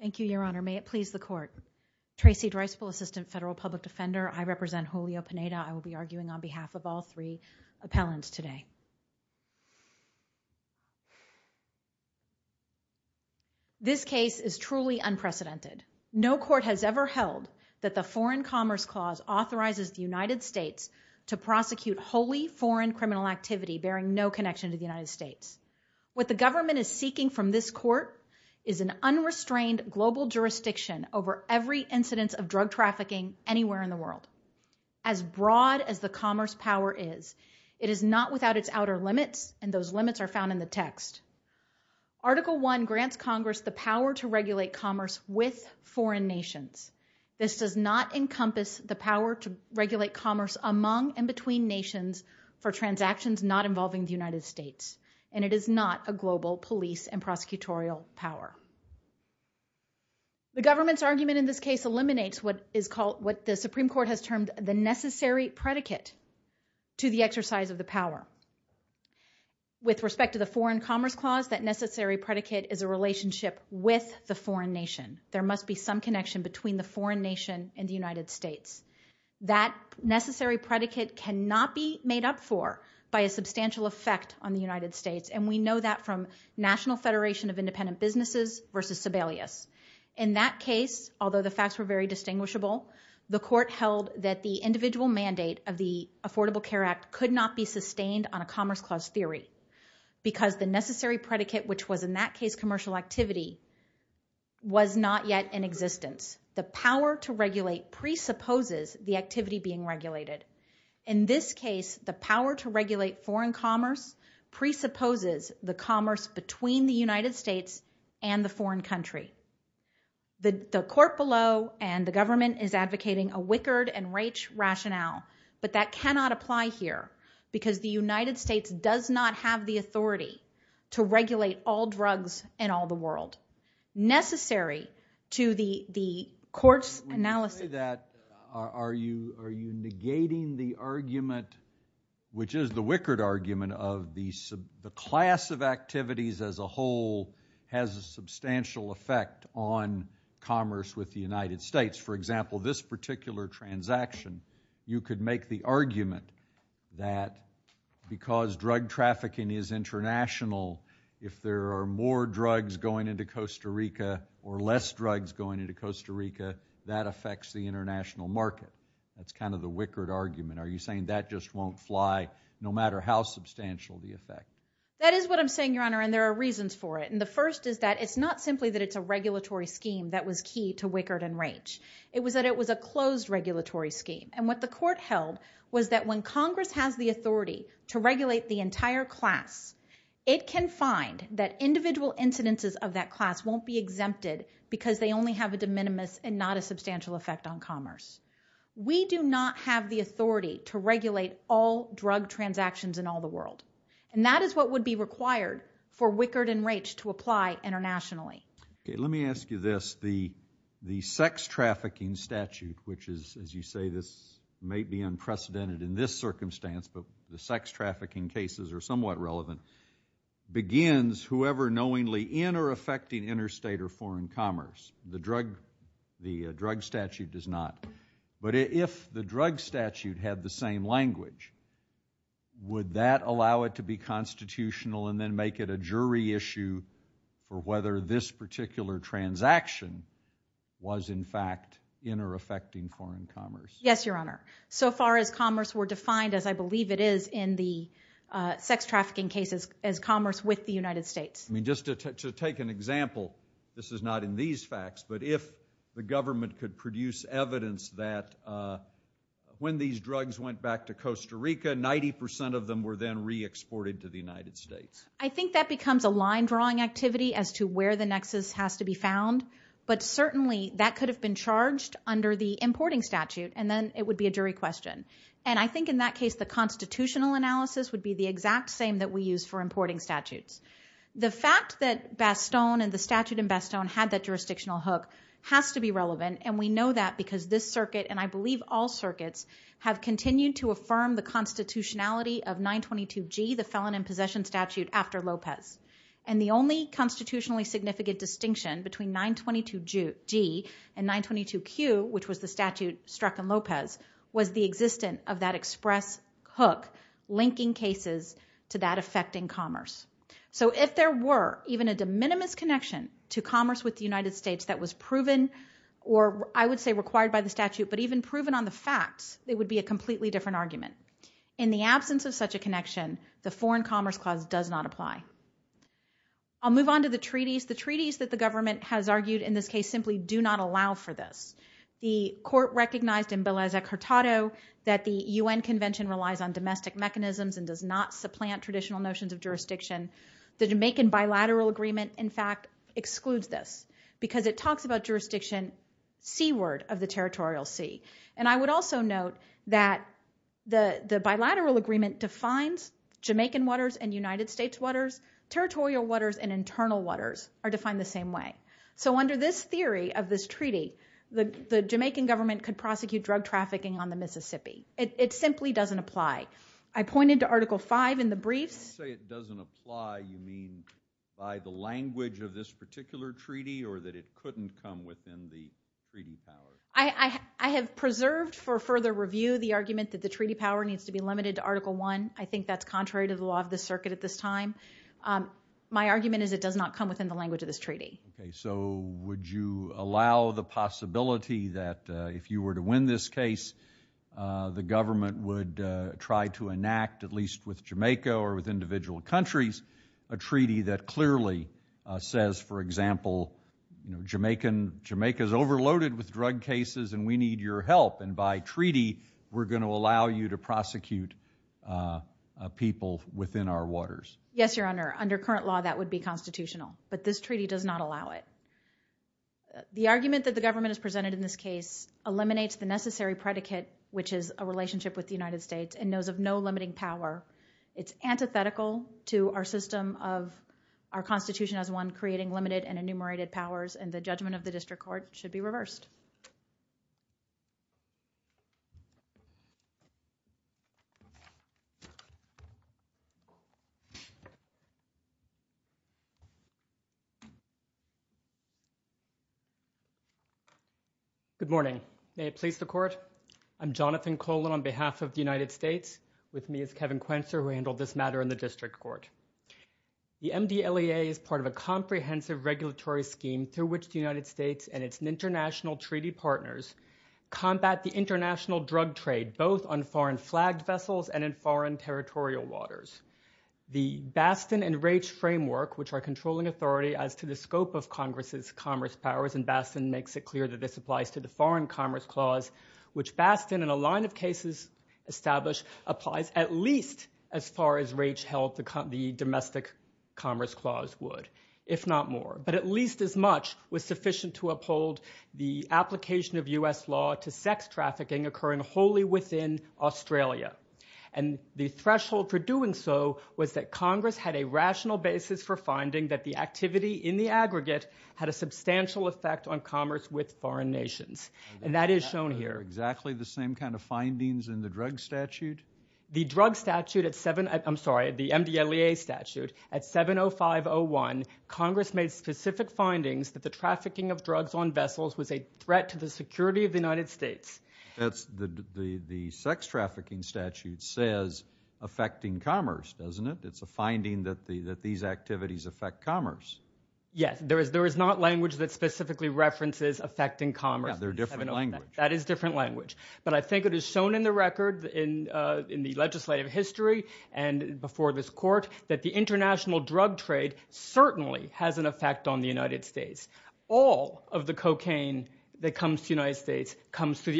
Thank you, Your Honor. May it please the Court. Tracy Dreisbel, Assistant Federal Public Defender. I represent Julio Pineda. I will be arguing on behalf of all three appellants today. This case is truly unprecedented. No court has ever held that the Foreign Commerce Clause authorizes the United States to prosecute wholly foreign criminal activity bearing no connection to the United States. What the government is seeking from this court is an unrestrained global jurisdiction over every incidence of drug trafficking anywhere in the world. As broad as the commerce power is, it is not without its outer limits, and those limits are found in the text. Article I grants Congress the power to regulate commerce with foreign nations. This does not encompass the power to regulate commerce among and between the United States, and it is not a global police and prosecutorial power. The government's argument in this case eliminates what the Supreme Court has termed the necessary predicate to the exercise of the power. With respect to the Foreign Commerce Clause, that necessary predicate is a relationship with the foreign nation. There must be some connection between the foreign nation and the United States. That necessary predicate cannot be made up for by a substantial effect on the United States, and we know that from National Federation of Independent Businesses versus Sebelius. In that case, although the facts were very distinguishable, the court held that the individual mandate of the Affordable Care Act could not be sustained on a Commerce Clause theory because the necessary predicate, which was in that case commercial activity, was not yet in existence. The power to regulate presupposes the activity being regulated. In this case, the power to regulate foreign commerce presupposes the commerce between the United States and the foreign country. The court below and the government is advocating a Wickard and Raich rationale, but that cannot apply here because the United States does not have the authority to regulate all drugs in all the world. Necessary to the court's analysis. Are you negating the argument, which is the Wickard argument, of the class of activities as a whole has a substantial effect on commerce with the United States? For example, this particular transaction, you could make the argument that because drug trafficking is international, if there are more drugs going into Costa Rica or less drugs going into Costa Rica, that affects the international market. That's kind of the Wickard argument. Are you saying that just won't fly no matter how substantial the effect? That is what I'm saying, Your Honor, and there are reasons for it. The first is that it's not simply that it's a regulatory scheme that was key to Wickard and Raich. It was that it was a closed regulatory scheme. What the court held was that when Congress has the authority to regulate the entire class, it can find that individual incidences of that only have a de minimis and not a substantial effect on commerce. We do not have the authority to regulate all drug transactions in all the world, and that is what would be required for Wickard and Raich to apply internationally. Let me ask you this. The sex trafficking statute, which is, as you say, this may be unprecedented in this circumstance, but the sex trafficking cases are somewhat relevant, begins whoever knowingly in or affecting interstate or foreign commerce. The drug statute does not, but if the drug statute had the same language, would that allow it to be constitutional and then make it a jury issue for whether this particular transaction was, in fact, in or affecting foreign commerce? Yes, Your Honor. So far as commerce were defined, as I believe it is in the sex trafficking cases, as commerce with the United States. I mean, just to take an example, this is not in these facts, but if the government could produce evidence that when these drugs went back to Costa Rica, 90% of them were then re-exported to the United States. I think that becomes a line-drawing activity as to where the nexus has to be found, but certainly that could have been charged under the importing statute, and then it would be a jury question. And I think in that case, the constitutional analysis would be the exact same that we use for importing statutes. The fact that Bastogne and the statute in Bastogne had that jurisdictional hook has to be relevant, and we know that because this circuit, and I believe all circuits, have continued to affirm the constitutionality of 922G, the felon in possession statute, after Lopez. And the only constitutionally significant distinction between 922G and 922Q, which was the statute struck in Lopez, was the existence of that express hook linking cases to that affecting commerce. So if there were even a de minimis connection to commerce with the United States that was proven, or I would say required by the statute, but even proven on the facts, it would be a completely different argument. In the absence of such a connection, the Foreign Commerce Clause does not apply. I'll move on to the treaties. The treaties that the government has argued in this case simply do not allow for this. The court recognized in Beleza-Curtado that the UN Convention relies on domestic mechanisms and does not supplant traditional notions of jurisdiction. The Jamaican bilateral agreement, in fact, excludes this because it talks about jurisdiction seaward of the territorial sea. And I would also note that the bilateral agreement defines Jamaican waters and United States waters. Territorial waters and internal waters are defined the same way. So under this theory of this treaty, the Jamaican government could prosecute drug trafficking on the Mississippi. It simply doesn't apply. I pointed to Article 5 in the briefs. When you say it doesn't apply, you mean by the language of this particular treaty or that it couldn't come within the treaty power? I have preserved for further review the argument that the treaty power needs to be limited to Article 1. I think that's contrary to the law of the circuit at this time. My argument Okay. So would you allow the possibility that if you were to win this case, the government would try to enact, at least with Jamaica or with individual countries, a treaty that clearly says, for example, you know, Jamaican, Jamaica is overloaded with drug cases and we need your help. And by treaty, we're going to allow you to prosecute people within our waters. Yes, Your Honor. Under current law, that would be constitutional. But this treaty does not allow it. The argument that the government has presented in this case eliminates the necessary predicate, which is a relationship with the United States and those of no limiting power. It's antithetical to our system of our Constitution as one creating limited and The MDLEA is part of a comprehensive regulatory scheme through which the United States and its international treaty partners combat the international drug trade, both on foreign flagged vessels and in foreign territorial waters. The Bastin and Raich framework, which are controlling authority as to the scope of Congress's commerce powers, and Bastin makes it clear that this applies to the Foreign Commerce Clause, which Bastin, in a line of cases established, applies at least as far as Raich held the Domestic Commerce Clause would, if not more. But at least as much was sufficient to uphold the application of U.S. law to sex trafficking occurring wholly within Australia. And the threshold for doing so was that Congress had a rational basis for finding that the activity in the aggregate had a substantial effect on commerce with foreign nations. And that is shown here. Are those exactly the same kind of findings in the drug statute? The drug statute at 7, I'm sorry, the MDLEA statute at 70501, Congress made specific findings that the trafficking of drugs on vessels was a threat to the security of the United States. The sex trafficking statute says affecting commerce, doesn't it? It's a finding that these activities affect commerce. Yes, there is not language that specifically references affecting commerce. Yeah, they're a different language. That is a different language. But I think it is shown in the record, in the legislative history and before this court, that the international drug trade certainly has an effect on the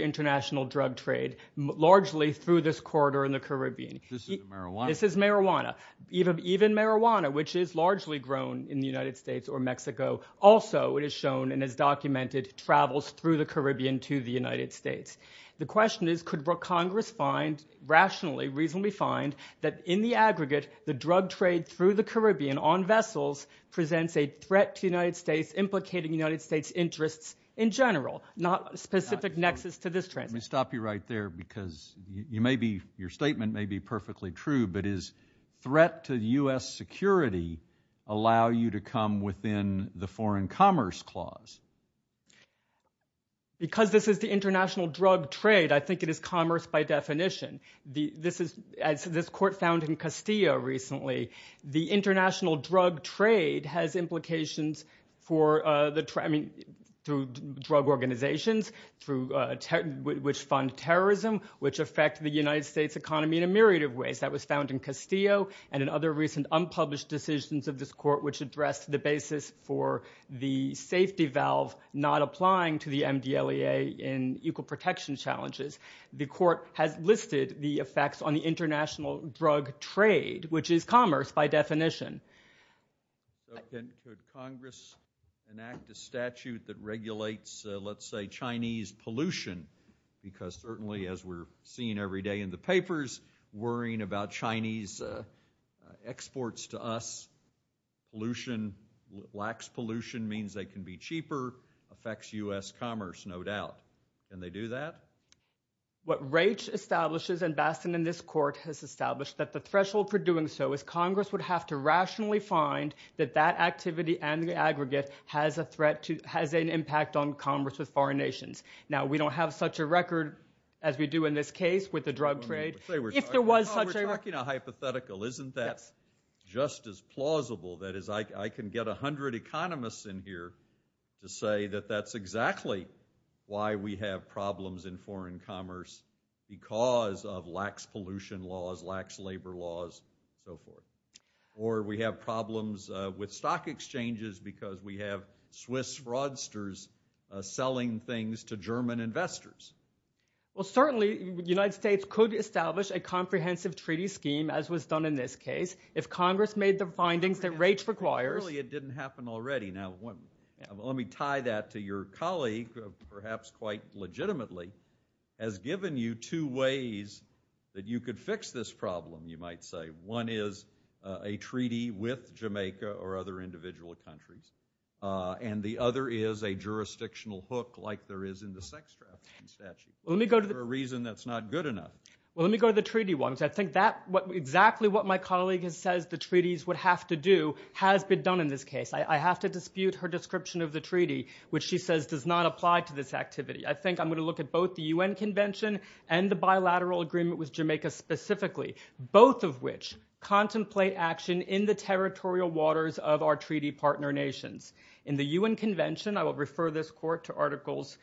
international drug trade, largely through this corridor in the Caribbean. This is marijuana. This is marijuana. Even marijuana, which is largely grown in the United States or Mexico, also, it is shown and is documented, travels through the Caribbean to the United States. The question is, could Congress find, rationally, reasonably find, that in the aggregate, the drug trade through the Caribbean on vessels presents a threat to the United States, implicating the United States' interests in general, not specific nexus to this transition. Let me stop you right there, because you may be, your statement may be perfectly true, but is threat to U.S. security allow you to come within the foreign commerce clause? Because this is the international drug trade, I think it is commerce by definition. This is, as this court found in Castillo recently, the international drug trade has implications for the, I mean, through drug organizations, through, which fund terrorism, which affect the United States economy in a myriad of ways. That was found in Castillo and in other recent unpublished decisions of this court, which addressed the basis for the safety valve not applying to the MDLEA in equal protection challenges. The court has listed the effects on the international drug trade, which is commerce by definition. Could Congress enact a statute that regulates, let's say, Chinese pollution? Because certainly, as we're seeing every day in the papers, worrying about Chinese exports to us, pollution, lax pollution means they can be cheaper, affects U.S. commerce, no doubt. Can they do that? What Raich establishes, and Bastin in this court has established, that the threshold for doing so is Congress would have to rationally find that that activity and the aggregate has a threat to, has an impact on commerce with foreign nations. Now, we don't have such a record as we do in this case with the drug trade. If there was such a- We're talking a hypothetical. Isn't that just as plausible? That is, I can get a hundred economists in here to say that that's exactly why we have problems in foreign commerce because of lax pollution laws, lax labor laws, and so forth. Or, we have problems with stock exchanges because we have Swiss fraudsters selling things to German investors. Well, certainly, the United States could establish a comprehensive treaty scheme, as was done in this case, if Congress made the findings that Raich requires. Really, it didn't happen already. Now, let me tie that to your colleague, perhaps quite legitimately, has given you two ways that you could fix this problem, you might say. One is a treaty with Jamaica or other individual countries, and the other is a jurisdictional hook like there is in the sex trafficking statute. Let me go to the- For a reason that's not good enough. Well, let me go to the treaty ones. I think that, exactly what my colleague says the treaties would have to do has been done in this case. I have to dispute her description of the treaty, which she says does not apply to this activity. I think I'm going to look at both the UN Convention and the bilateral agreement with Jamaica specifically, both of which contemplate action in the territorial waters of our treaty partner nations. In the UN Convention, I will refer this court to articles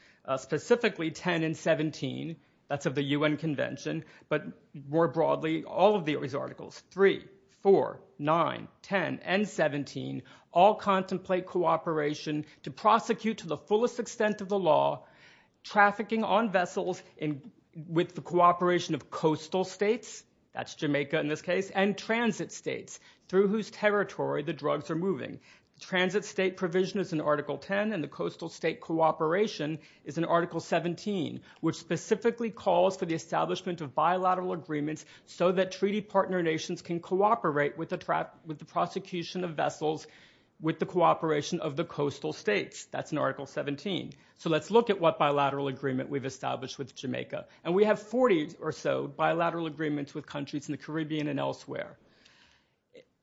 specifically 10 and 17. That's of the UN Convention, but more broadly, all of these articles, 3, 4, 9, 10, and 17, all contemplate cooperation to prosecute to the fullest extent of the law, trafficking on vessels with the cooperation of coastal states, that's Jamaica in this case, and transit states, through whose territory the drugs are moving. The transit state provision is in article 10, and the coastal state cooperation is in article 17, which specifically calls for the establishment of bilateral agreements so that treaty partner nations can cooperate with the prosecution of vessels with the cooperation of the coastal states. That's in article 17. So let's look at what bilateral agreement we've established with Jamaica, and we have 40 or so bilateral agreements with countries in the Caribbean and elsewhere.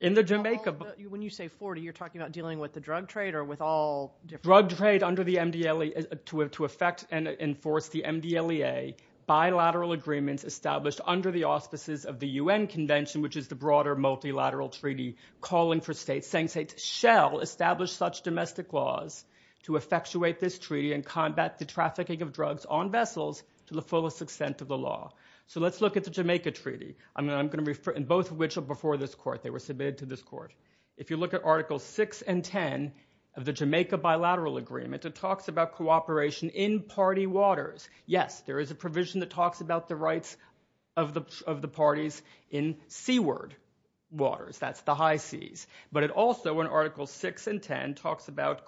In the Jamaica... When you say 40, you're talking about dealing with the drug trade or with all different... Drug trade under the MDLE, to affect and enforce the MDLEA, bilateral agreements established under the auspices of the UN Convention, which is the broader multilateral treaty calling for states, saying states shall establish such domestic laws to effectuate this treaty and combat the trafficking of drugs on vessels to the fullest extent of the law. So let's look at the Jamaica Treaty. I'm going to refer... And both of which are before this court. They were submitted to this court. If you look at articles 6 and 10 of the Jamaica Bilateral Agreement, it talks about cooperation in party waters. Yes, there is a provision that talks about the rights of the parties in seaward waters. That's the high seas. But it also, in articles 6 and 10, talks about...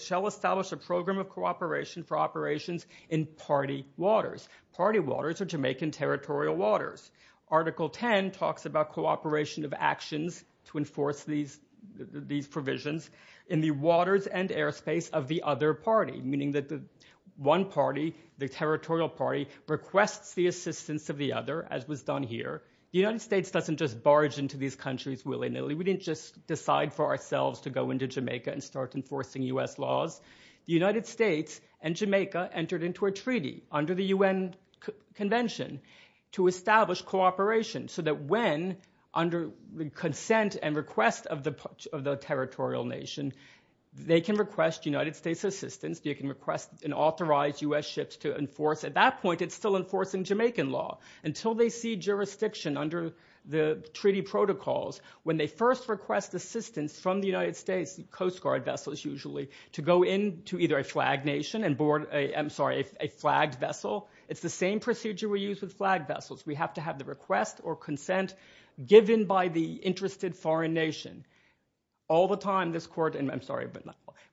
Shall establish a program of cooperation for operations in party waters. Party waters are Jamaican territorial waters. Article 10 talks about cooperation of actions to enforce these provisions in the waters requests the assistance of the other, as was done here. The United States doesn't just barge into these countries willy-nilly. We didn't just decide for ourselves to go into Jamaica and start enforcing U.S. laws. The United States and Jamaica entered into a treaty under the UN Convention to establish cooperation so that when, under the consent and request of the territorial nation, they can request United States assistance, they can request and authorize U.S. ships to enforce. At that point, it's still enforcing Jamaican law. Until they see jurisdiction under the treaty protocols, when they first request assistance from the United States, coast guard vessels usually, to go into either a flagged nation and board a flagged vessel, it's the same procedure we use with flagged vessels. We have to have the request or consent given by the interested foreign nation.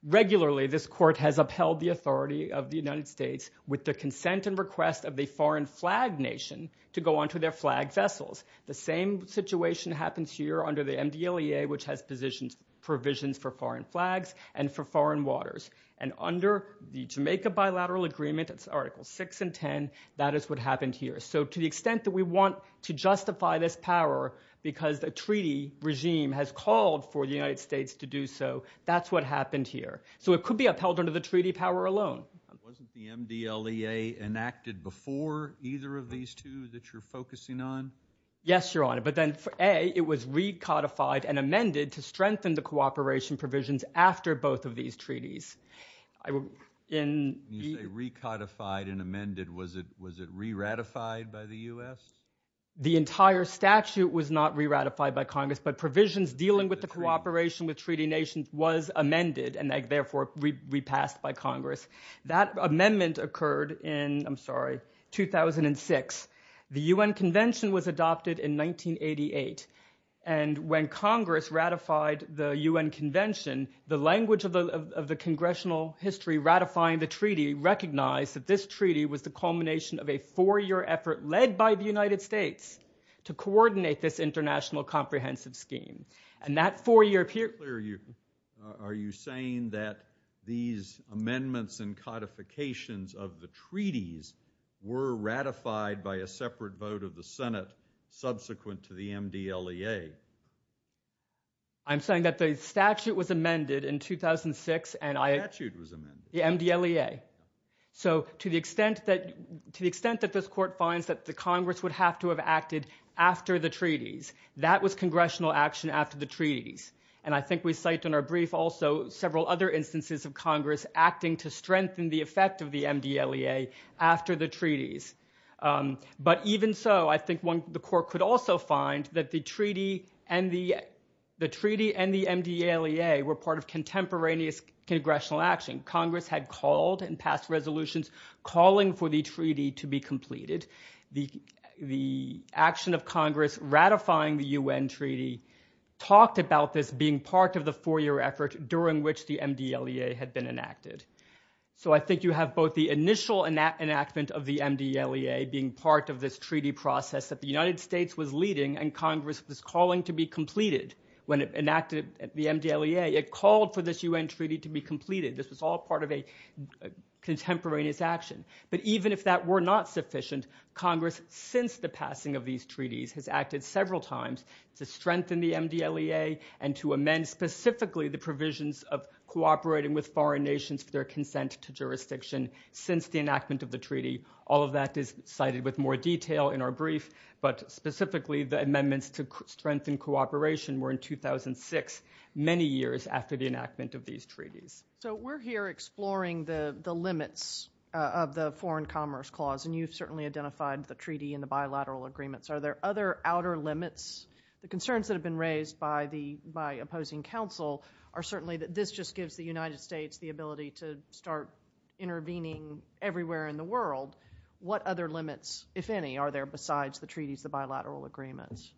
Regularly, this court has upheld the authority of the United States with the consent and request of the foreign flagged nation to go onto their flagged vessels. The same situation happens here under the MDLEA, which has provisions for foreign flags and for foreign waters. Under the Jamaica Bilateral Agreement, it's Article 6 and 10, that is what happened here. To the extent that we want to justify this power because the treaty regime has called for the United States to do so, that's what happened here. It could be upheld under the treaty power alone. Wasn't the MDLEA enacted before either of these two that you're focusing on? Yes, Your Honor, but then A, it was recodified and amended to strengthen the cooperation provisions after both of these treaties. When you say recodified and amended, was it re-ratified by the U.S.? The entire statute was not re-ratified by Congress, but provisions dealing with the cooperation with treaty nations was amended and therefore repassed by Congress. That amendment occurred in 2006. The UN Convention was adopted in 1988, and when Congress ratified the UN Convention, the language of the congressional history ratifying the treaty recognized that this treaty was the culmination of a four-year effort led by the United States to coordinate this international comprehensive scheme. And that four-year period... Are you saying that these amendments and codifications of the treaties were ratified by a separate vote of the Senate subsequent to the MDLEA? I'm saying that the statute was amended in 2006. The statute was amended? The MDLEA. So to the extent that this Court finds that the Congress would have to have acted after the treaties, that was congressional action after the treaties. And I think we cite in our brief also several other instances of Congress acting to strengthen the effect of the MDLEA after the treaties. But even so, I think the Court could also find that the treaty and the MDLEA were part of contemporaneous congressional action. Congress had called and passed resolutions calling for the treaty to be completed. The action of Congress ratifying the UN Treaty talked about this being part of the four-year effort during which the MDLEA had been enacted. So I think you have both the initial enactment of the MDLEA being part of this treaty process that the United States was leading and Congress was calling to be completed when it enacted the MDLEA. It called for this UN Treaty to be completed. This was all part of a contemporaneous action. But even if that were not sufficient, Congress, since the passing of these treaties, has acted several times to strengthen the MDLEA and to amend specifically the provisions of cooperating with foreign nations for their consent to jurisdiction since the enactment of the treaty. All of that is cited with more detail in our brief. But specifically, the amendments to strengthen cooperation were in 2006, many years after the enactment of these treaties. So we're here exploring the limits of the Foreign Commerce Clause, and you've certainly identified the treaty and the bilateral agreements. Are there other outer limits? The concerns that have been raised by opposing counsel are certainly that this just gives the United States the ability to start intervening everywhere in the world. What other limits, if any, are there besides the treaties, the bilateral agreements?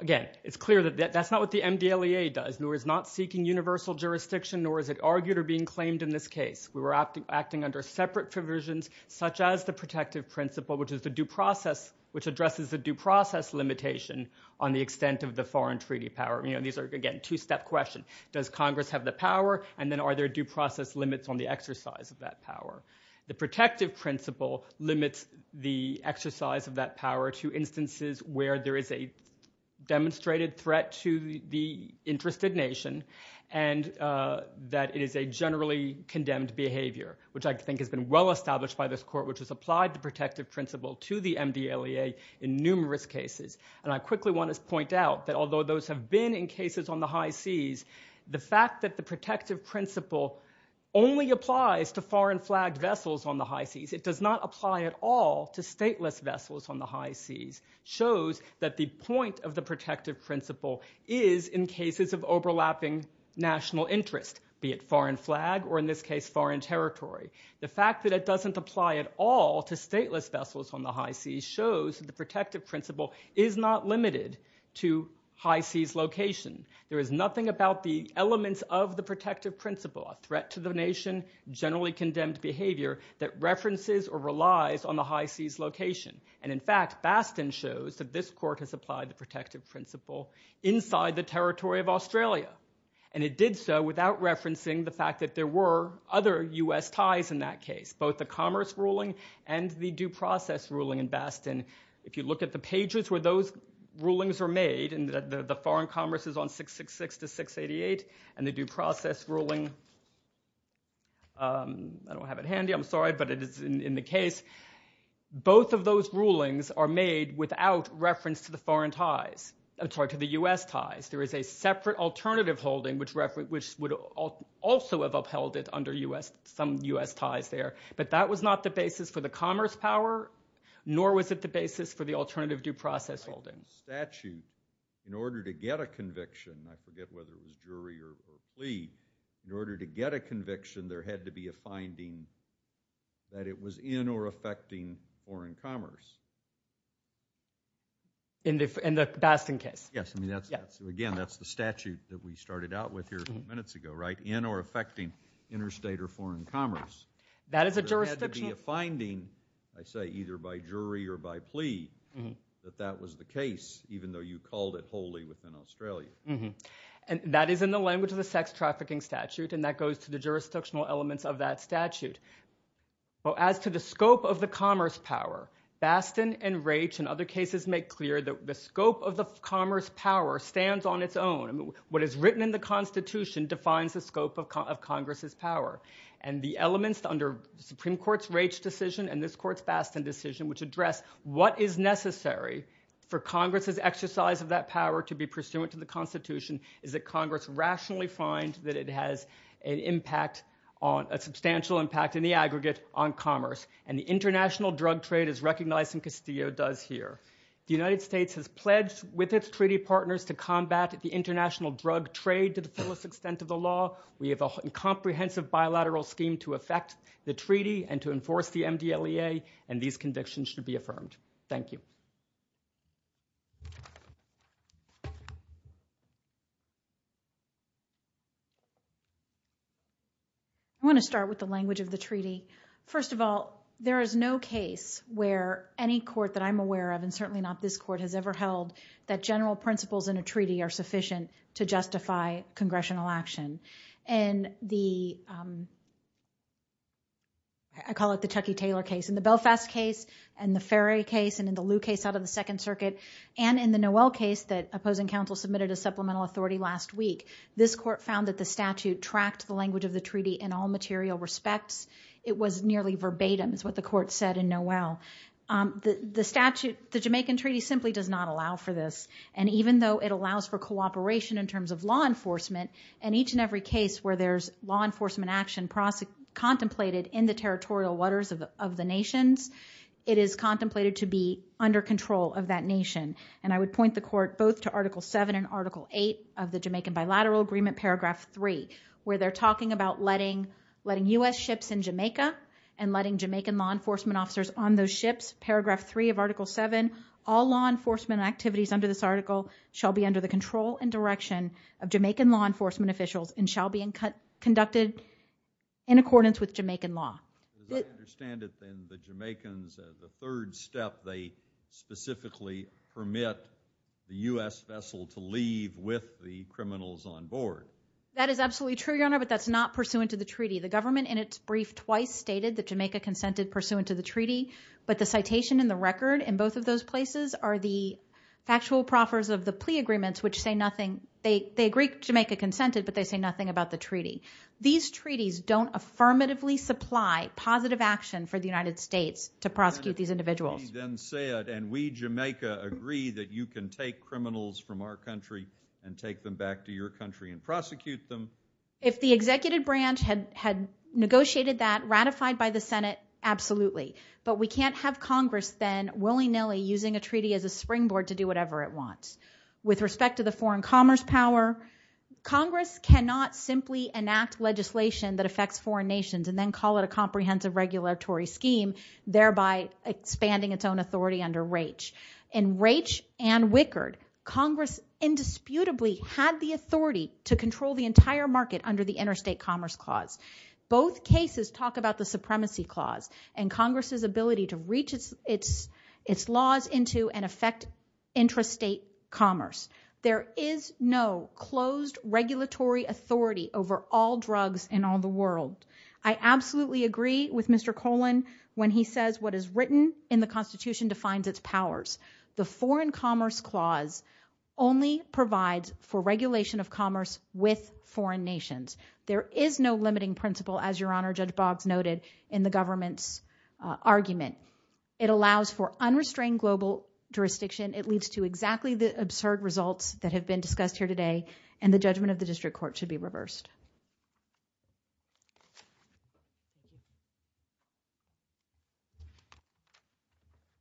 Again, it's clear that that's not what the MDLEA does, nor is it seeking universal jurisdiction, nor is it argued or being claimed in this case. We were acting under separate provisions, such as the protective principle, which addresses the due process limitation on the extent of the foreign treaty power. These are, again, a two-step question. Does Congress have the power, and then are there due process limits on the exercise of that power? The protective principle limits the exercise of that power to instances where there is a demonstrated threat to the interested nation and that it is a generally condemned behavior, which I think has been well established by this Court, which has applied the protective principle to the MDLEA in numerous cases. And I quickly want to point out that although those have been in cases on the high seas, the fact that the protective principle only applies to foreign flagged vessels on the high seas, it does not apply at all to stateless vessels on the high seas, shows that the point of the protective principle is in cases of overlapping national interest, be it foreign flag or in this case foreign territory. The fact that it doesn't apply at all to stateless vessels on the high seas shows that the protective principle is not limited to high seas location. There is nothing about the elements of the protective principle, a threat to the nation, generally condemned behavior, that references or relies on the high seas location. And in fact, Baston shows that this Court has applied the protective principle inside the territory of Australia. And it did so without referencing the fact that there were other U.S. ties in that case, both the Commerce Ruling and the Due Process Ruling in Baston. If you look at the pages where those rulings are made, and the Foreign Commerce is on 666-688, and the Due Process Ruling, I don't have it handy, I'm sorry, but it is in the case. Both of those rulings are made without reference to the U.S. ties. There is a separate alternative holding which would also have upheld it under some U.S. ties there. But that was not the basis for the commerce power, nor was it the basis for the alternative due process holding. Statute, in order to get a conviction, I forget whether it was jury or plea, in order to get a conviction there had to be a finding that it was in or affecting foreign commerce. In the Baston case. Yes, again, that's the statute that we started out with here a few minutes ago, right? In or affecting interstate or foreign commerce. There had to be a finding, I say, either by jury or by plea, that that was the case, even though you called it wholly within Australia. That is in the language of the sex trafficking statute, and that goes to the jurisdictional elements of that statute. As to the scope of the commerce power, Baston and Raich and other cases make clear that the scope of the commerce power stands on its own. What is written in the Constitution defines the scope of Congress's power. And the elements under the Supreme Court's Raich decision and this court's Baston decision, which address what is necessary for Congress's exercise of that power to be pursuant to the Constitution, is that Congress rationally finds that it has a substantial impact in the aggregate on commerce. And the international drug trade is recognized and Castillo does here. The United States has pledged with its treaty partners to combat the international drug trade to the fullest extent of the law. We have a comprehensive bilateral scheme to affect the treaty and to enforce the MDLEA. And these convictions should be affirmed. Thank you. I want to start with the language of the treaty. First of all, there is no case where any court that I'm aware of, and certainly not this court, has ever held that general principles in a treaty are sufficient to justify congressional action. And I call it the Chuckie Taylor case. In the Belfast case, and the Ferry case, and in the Liu case out of the Second Circuit, and in the Noel case that opposing counsel submitted a supplemental authority last week, this court found that the statute tracked the language of the treaty in all material respects. It was nearly verbatim is what the court said in Noel. The statute, the Jamaican treaty, simply does not allow for this. And even though it allows for cooperation in terms of law enforcement, in each and every case where there's law enforcement action contemplated in the territorial waters of the nations, it is contemplated to be under control of that nation. And I would point the court both to Article 7 and Article 8 of the Jamaican Bilateral Agreement, Paragraph 3, where they're talking about letting U.S. ships in Jamaica and letting Jamaican law enforcement officers on those ships. Paragraph 3 of Article 7, all law enforcement activities under this article shall be under the control and direction of Jamaican law enforcement officials and shall be conducted in accordance with Jamaican law. As I understand it, then, the Jamaicans, the third step, they specifically permit the U.S. vessel to leave with the criminals on board. That is absolutely true, Your Honor, but that's not pursuant to the treaty. The government in its brief twice stated that Jamaica consented pursuant to the treaty, but the citation in the record in both of those places are the factual proffers of the plea agreements, which say nothing. These treaties don't affirmatively supply positive action for the United States to prosecute these individuals. If the executive branch had negotiated that, ratified by the Senate, absolutely. But we can't have Congress then willy-nilly using a treaty as a springboard to do whatever it wants. With respect to the foreign commerce power, Congress cannot simply enact legislation that affects foreign nations and then call it a comprehensive regulatory scheme, thereby expanding its own authority under Raich. In Raich and Wickard, Congress indisputably had the authority to control the entire market under the Interstate Commerce Clause. Both cases talk about the Supremacy Clause and Congress' ability to reach its laws into and affect intrastate commerce. There is no closed regulatory authority over all drugs in all the world. I absolutely agree with Mr. Colan when he says what is written in the Constitution defines its powers. The Foreign Commerce Clause only provides for regulation of commerce with foreign nations. There is no limiting principle, as Your Honor Judge Boggs noted in the government's argument. It allows for unrestrained global jurisdiction. It leads to exactly the absurd results that have been discussed here today, and the judgment of the District Court should be reversed.